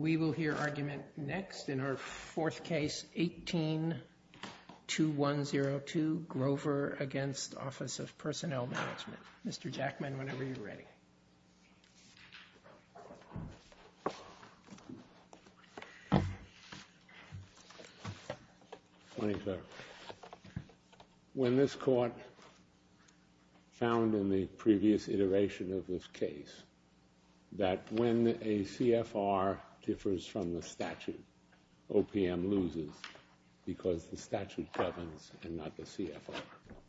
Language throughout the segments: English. We will hear argument next in our fourth case, 18-2102, Grover v. Office of Personnel Management. Mr. Jackman, whenever you're ready. When this court found in the previous iteration of this case that when a CFR differs from the statute, OPM loses because the statute governs and not the CFR.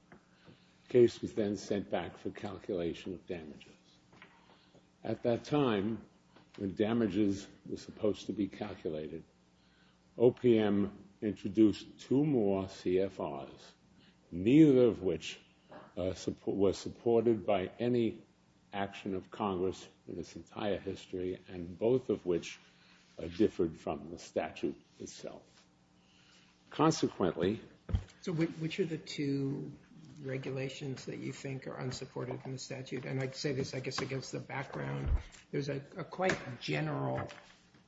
The case was then sent back for calculation of damages. At that time, when damages were supposed to be calculated, OPM introduced two more CFRs, neither of which were supported by any action of Congress in its entire history, and both of which differed from the statute itself. Consequently... So which are the two regulations that you think are unsupported in the statute? And I'd say this, I guess, against the background. There's a quite general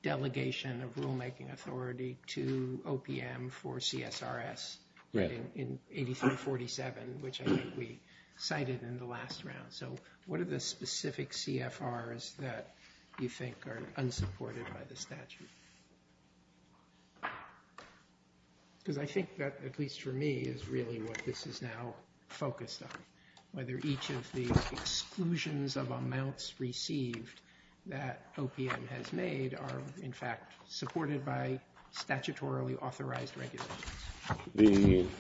delegation of rulemaking authority to OPM for CSRS in 83-47, which I think we cited in the last round. So what are the specific CFRs that you think are unsupported by the statute? Because I think that, at least for me, is really what this is now focused on, whether each of the exclusions of amounts received that OPM has made are, in fact, supported by statutorily authorized regulations. And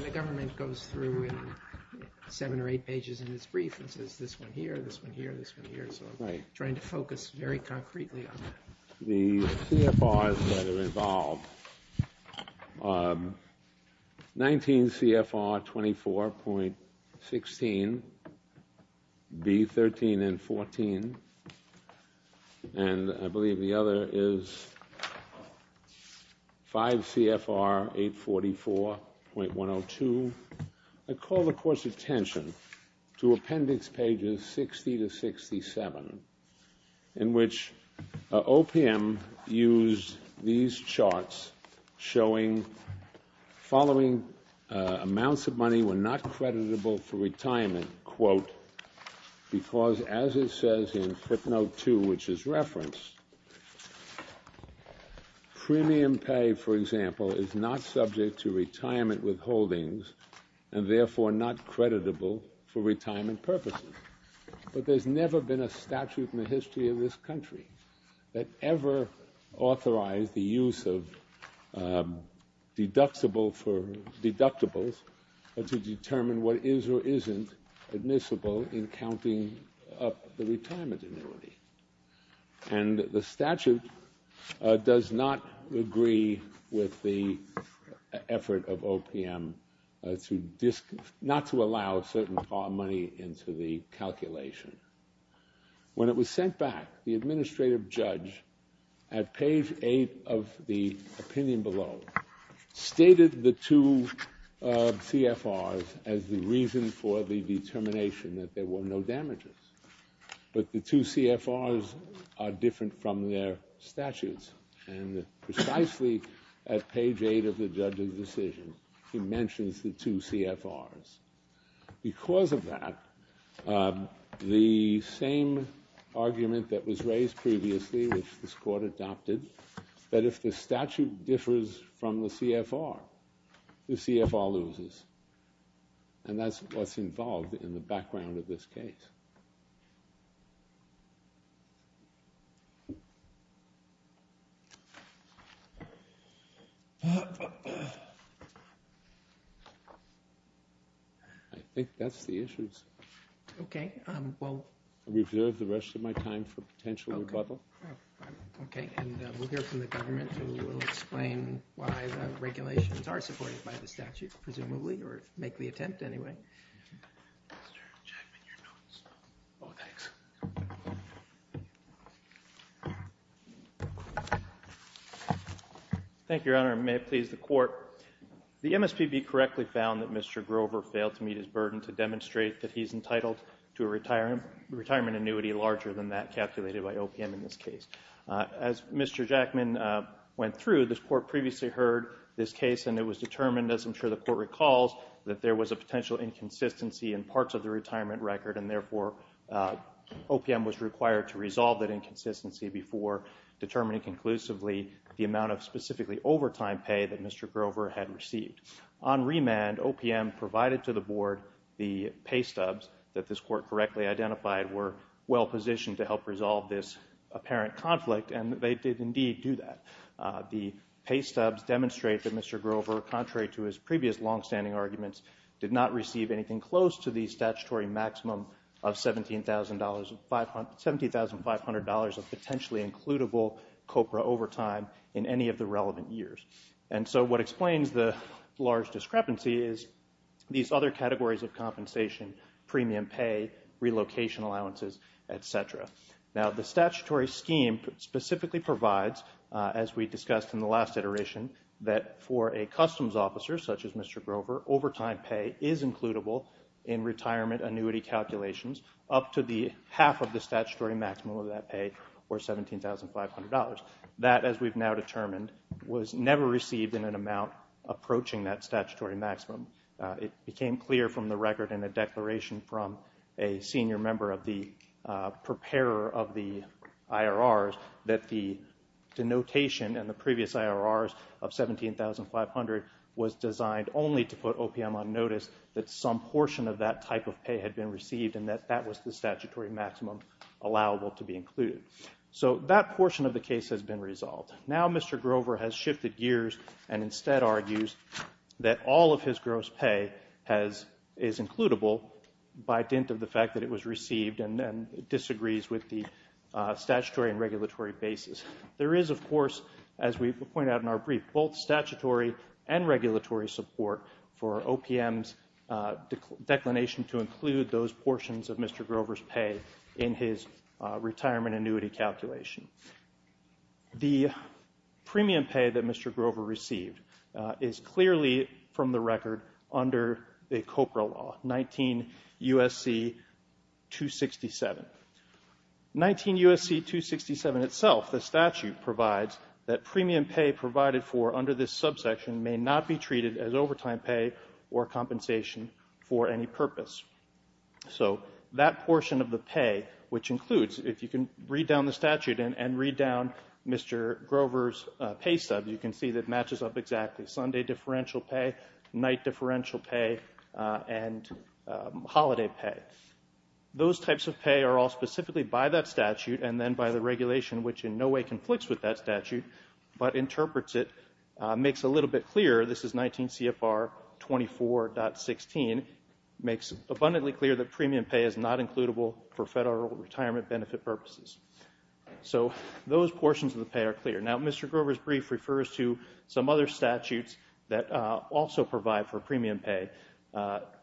the government goes through in seven or eight pages in its brief and says, this one here, this one here, this one here. So I'm trying to focus very concretely on that. The CFRs that are involved are 19 CFR 24.16, B13 and 14, and I believe the other is 5 CFR 844.102. I call, of course, attention to Appendix Pages 60-67, in which OPM used these charts showing following amounts of money were not creditable for retirement, quote, because as it says in footnote 2, which is referenced, premium pay, for example, is not subject to retirement withholdings and therefore not creditable for retirement purposes. But there's never been a statute in the history of this country that ever authorized the use of deductibles to determine what is or isn't admissible in counting up the retirement annuity. And the statute does not agree with the effort of OPM not to allow certain money into the calculation. When it was sent back, the administrative judge at page 8 of the opinion below stated the two CFRs as the reason for the determination that there were no damages. But the two CFRs are different from their statutes. And precisely at page 8 of the judge's decision, he mentions the two CFRs. Because of that, the same argument that was raised previously, which this court adopted, that if the statute differs from the CFR, the CFR loses. And that's what's involved in the background of this case. I think that's the issues. OK. Well, we've reserved the rest of my time for potential rebuttal. OK. And we'll hear from the government who will explain why the regulations are supported by the statute, presumably, or make the attempt anyway. Mr. Jackman, your notes. Oh, thanks. Thank you, Your Honor. May it please the Court. The MSPB correctly found that Mr. Grover failed to meet his burden to demonstrate that he's entitled to a retirement annuity larger than that calculated by OPM in this case. As Mr. Jackman went through, this Court previously heard this case, and it was determined, as I'm sure the Court recalls, that there was a potential inconsistency in parts of the retirement record, and therefore OPM was required to resolve that inconsistency before determining conclusively the amount of specifically overtime pay that Mr. Grover had received. On remand, OPM provided to the Board the pay stubs that this Court correctly identified were well-positioned to help resolve this apparent conflict, and they did indeed do that. The pay stubs demonstrate that Mr. Grover, contrary to his previous longstanding arguments, did not receive anything close to the statutory maximum of $17,500 of potentially-includable COPRA overtime in any of the relevant years. And so what explains the large discrepancy is these other categories of compensation, premium pay, relocation allowances, et cetera. Now, the statutory scheme specifically provides, as we discussed in the last iteration, that for a customs officer such as Mr. Grover, overtime pay is includable in retirement annuity calculations up to the half of the statutory maximum of that pay, or $17,500. That, as we've now determined, was never received in an amount approaching that statutory maximum. It became clear from the record in a declaration from a senior member of the preparer of the IRRs that the denotation in the previous IRRs of $17,500 was designed only to put OPM on notice that some portion of that type of pay had been received and that that was the statutory maximum allowable to be included. So that portion of the case has been resolved. Now Mr. Grover has shifted gears and instead argues that all of his gross pay is includable by dint of the fact that it was received and disagrees with the statutory and regulatory basis. There is, of course, as we pointed out in our brief, both statutory and regulatory support for OPM's declination to include those portions of Mr. Grover's pay in his retirement annuity calculation. The premium pay that Mr. Grover received is clearly, from the record, under the COPRA law, 19 U.S.C. 267. 19 U.S.C. 267 itself, the statute provides, that premium pay provided for under this subsection may not be treated as overtime pay or compensation for any purpose. So that portion of the pay, which includes, if you can read down the statute and read down Mr. Grover's pay sub, you can see that matches up exactly Sunday differential pay, night differential pay, and holiday pay. Those types of pay are all specifically by that statute and then by the regulation, which in no way conflicts with that statute but interprets it, makes a little bit clearer. This is 19 CFR 24.16. It makes abundantly clear that premium pay is not includable for federal retirement benefit purposes. So those portions of the pay are clear. Now, Mr. Grover's brief refers to some other statutes that also provide for premium pay,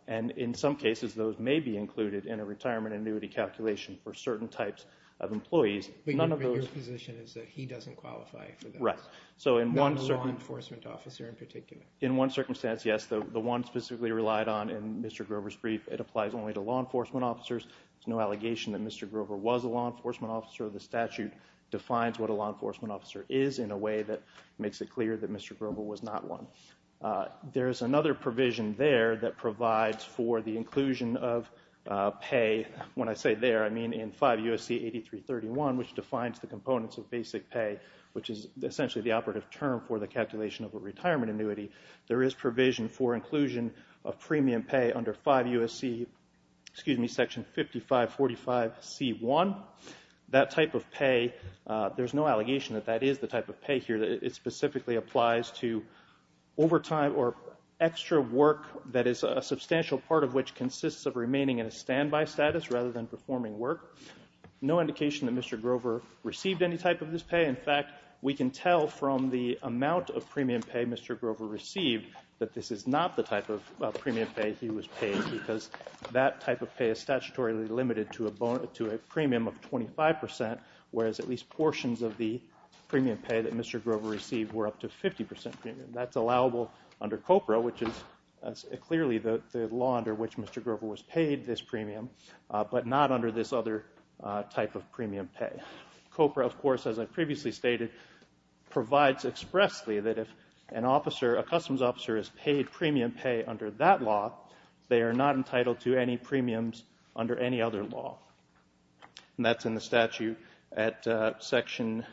and in some cases those may be included in a retirement annuity calculation for certain types of employees. But your position is that he doesn't qualify for those? Right. Not a law enforcement officer in particular? In one circumstance, yes. The one specifically relied on in Mr. Grover's brief, it applies only to law enforcement officers. There's no allegation that Mr. Grover was a law enforcement officer. The statute defines what a law enforcement officer is in a way that makes it clear that Mr. Grover was not one. There is another provision there that provides for the inclusion of pay. When I say there, I mean in 5 U.S.C. 8331, which defines the components of basic pay, which is essentially the operative term for the calculation of a retirement annuity. There is provision for inclusion of premium pay under 5 U.S.C. section 5545C1. That type of pay, there's no allegation that that is the type of pay here. It specifically applies to overtime or extra work that is a substantial part of which consists of remaining in a standby status rather than performing work. No indication that Mr. Grover received any type of this pay. In fact, we can tell from the amount of premium pay Mr. Grover received that this is not the type of premium pay he was paid because that type of pay is statutorily limited to a premium of 25%, whereas at least portions of the premium pay that Mr. Grover received were up to 50% premium. That's allowable under COPRA, which is clearly the law under which Mr. Grover was paid this premium, but not under this other type of premium pay. COPRA, of course, as I previously stated, provides expressly that if an officer, a customs officer, is paid premium pay under that law, they are not entitled to any premiums under any other law. That's in the statute at section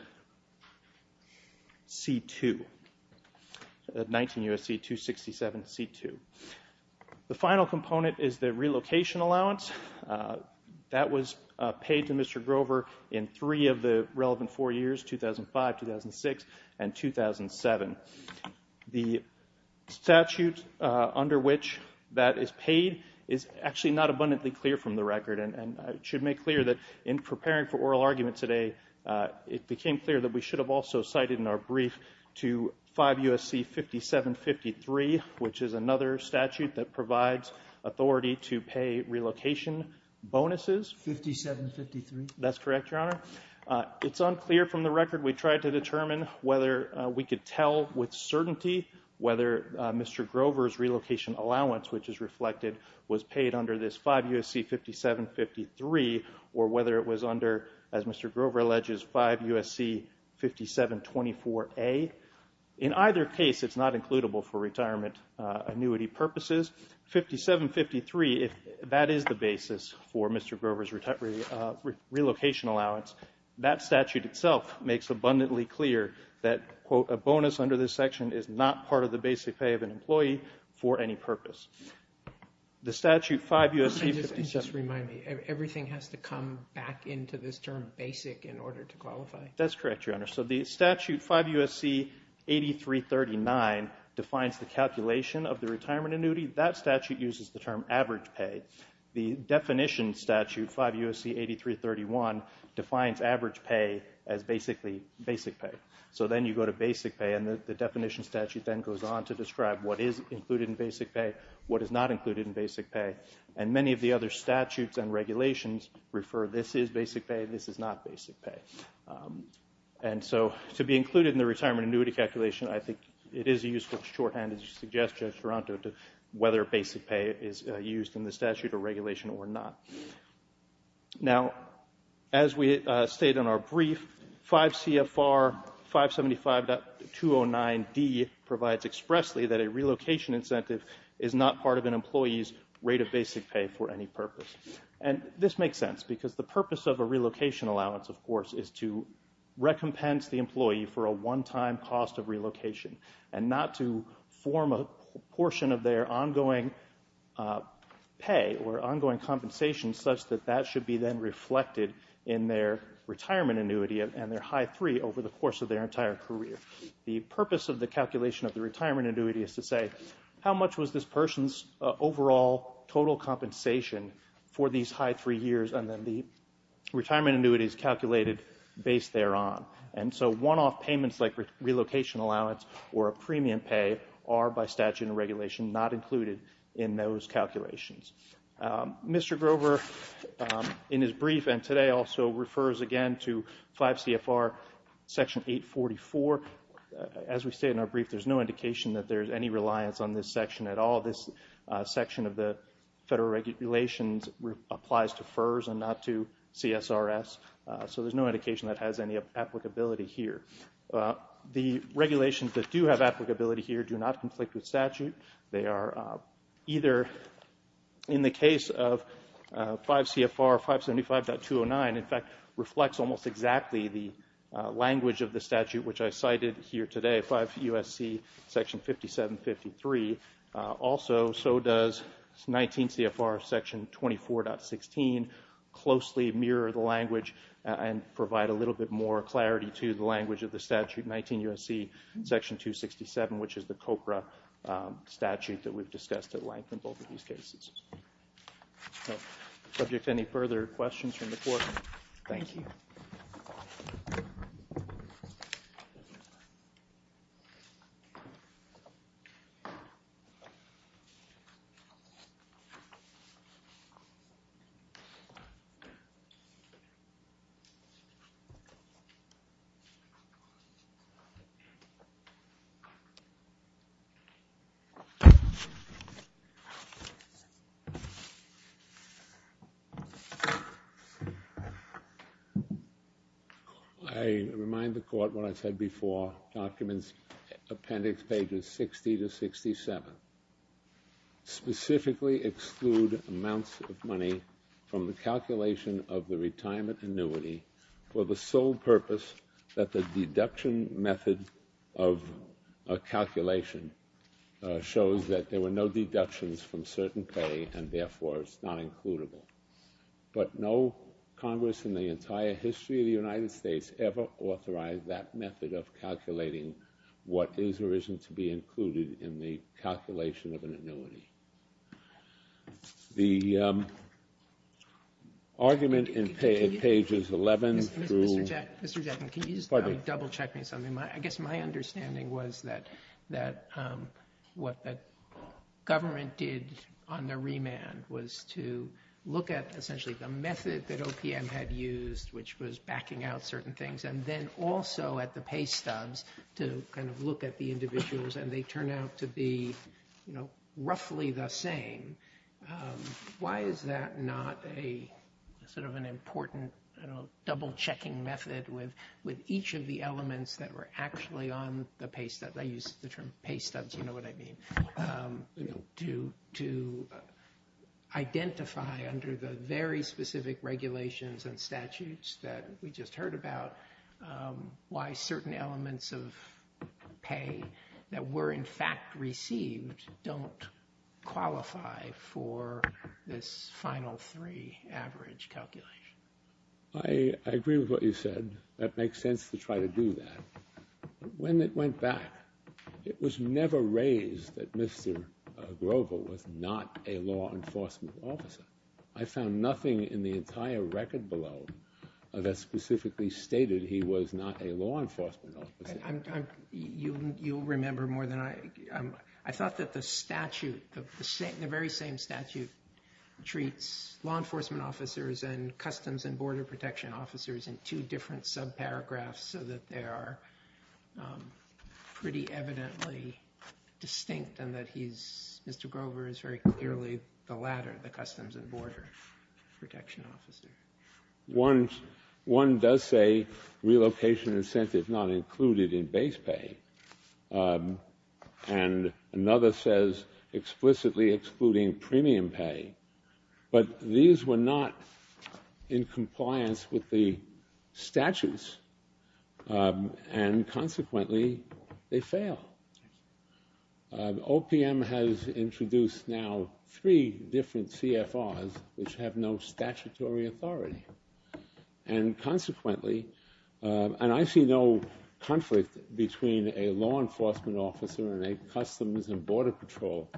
C2, 19 U.S.C. 267 C2. The final component is the relocation allowance. That was paid to Mr. Grover in three of the relevant four years, 2005, 2006, and 2007. The statute under which that is paid is actually not abundantly clear from the record, and I should make clear that in preparing for oral argument today, it became clear that we should have also cited in our brief to 5 U.S.C. 5753, which is another statute that provides authority to pay relocation bonuses. 5753? That's correct, Your Honor. It's unclear from the record we tried to determine whether we could tell with certainty whether Mr. Grover's relocation allowance, which is reflected, was paid under this 5 U.S.C. 5753 or whether it was under, as Mr. Grover alleges, 5 U.S.C. 5724A. In either case, it's not includable for retirement annuity purposes. 5753, if that is the basis for Mr. Grover's relocation allowance, that statute itself makes abundantly clear that, quote, a bonus under this section is not part of the basic pay of an employee for any purpose. The statute 5 U.S.C. 5724A. Just remind me, everything has to come back into this term basic in order to qualify? That's correct, Your Honor. So the statute 5 U.S.C. 8339 defines the calculation of the retirement annuity. That statute uses the term average pay. The definition statute 5 U.S.C. 8331 defines average pay as basically basic pay. So then you go to basic pay, and the definition statute then goes on to describe what is included in basic pay, what is not included in basic pay. And many of the other statutes and regulations refer this is basic pay, this is not basic pay. And so to be included in the retirement annuity calculation, I think it is a useful shorthand to suggest, Judge Toronto, to whether basic pay is used in the statute or regulation or not. Now, as we state in our brief, 5 CFR 575.209D provides expressly that a relocation incentive is not part of an employee's rate of basic pay for any purpose. And this makes sense because the purpose of a relocation allowance, of course, is to recompense the employee for a one-time cost of relocation and not to form a portion of their ongoing pay or ongoing compensation such that that should be then reflected in their retirement annuity and their high three over the course of their entire career. The purpose of the calculation of the retirement annuity is to say, how much was this person's overall total compensation for these high three years? And then the retirement annuity is calculated based thereon. And so one-off payments like relocation allowance or a premium pay are, by statute and regulation, not included in those calculations. Mr. Grover, in his brief and today, also refers again to 5 CFR Section 844. As we state in our brief, there's no indication that there's any reliance on this section at all. This section of the federal regulations applies to FERS and not to CSRS. So there's no indication that has any applicability here. The regulations that do have applicability here do not conflict with statute. They are either in the case of 5 CFR 575.209, in fact, reflects almost exactly the language of the statute which I cited here today, 5 U.S.C. Section 5753. Also, so does 19 CFR Section 24.16, closely mirror the language and provide a little bit more clarity to the language of the statute, 19 U.S.C. Section 267, which is the COPRA statute that we've discussed at length in both of these cases. Subject to any further questions from the Court, thank you. I remind the Court what I said before, Documents Appendix Pages 60 to 67, specifically exclude amounts of money from the calculation of the retirement annuity for the sole purpose that the deduction method of calculation shows that there were no deductions from certain pay and, therefore, it's not includable. But no Congress in the entire history of the United States ever authorized that method of calculating what is or isn't to be included in the calculation of an annuity. The argument in Pages 11 through... Mr. Jackman, can you just double-check me on something? I guess my understanding was that what the government did on the remand was to look at essentially the method that OPM had used, which was backing out certain things, and then also at the pay stubs to kind of look at the individuals, and they turn out to be roughly the same. Why is that not a sort of an important double-checking method with each of the elements that were actually on the pay stubs? I use the term pay stubs, you know what I mean. To identify under the very specific regulations and statutes that we just heard about why certain elements of pay that were, in fact, received don't qualify for this final three average calculation. I agree with what you said. That makes sense to try to do that. When it went back, it was never raised that Mr. Grover was not a law enforcement officer. I found nothing in the entire record below that specifically stated he was not a law enforcement officer. You'll remember more than I. I thought that the statute, the very same statute, treats law enforcement officers and customs and border protection officers in two different sub-paragraphs so that they are pretty evidently distinct and that Mr. Grover is very clearly the latter, the customs and border protection officer. One does say relocation incentive not included in base pay, and another says explicitly excluding premium pay, but these were not in compliance with the statutes, and consequently they fail. OPM has introduced now three different CFRs which have no statutory authority, and consequently, and I see no conflict between a law enforcement officer and a customs and border patrol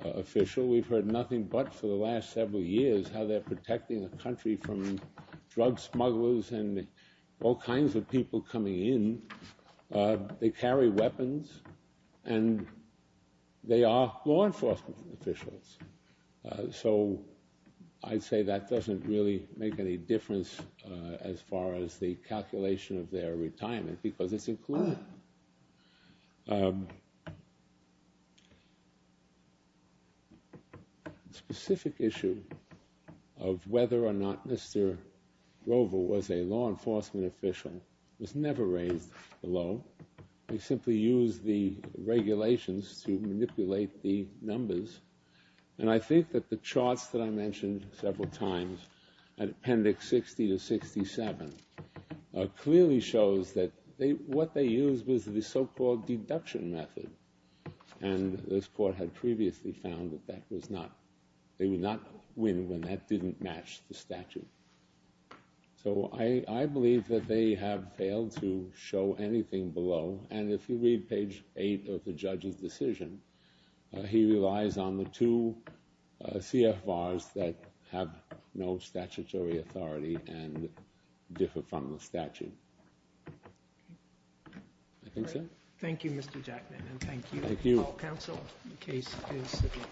official. We've heard nothing but for the last several years how they're protecting the country from drug smugglers and all kinds of people coming in. They carry weapons, and they are law enforcement officials, so I'd say that doesn't really make any difference as far as the calculation of their retirement because it's included. The specific issue of whether or not Mr. Grover was a law enforcement official was never raised below. They simply used the regulations to manipulate the numbers, and I think that the charts that I mentioned several times, and Appendix 60 to 67, clearly shows that what they used was the so-called deduction method, and this court had previously found that they would not win when that didn't match the statute. So I believe that they have failed to show anything below, and if you read page 8 of the judge's decision, he relies on the two CFRs that have no statutory authority and differ from the statute. I think so. Thank you, Mr. Jackman, and thank you. Thank you.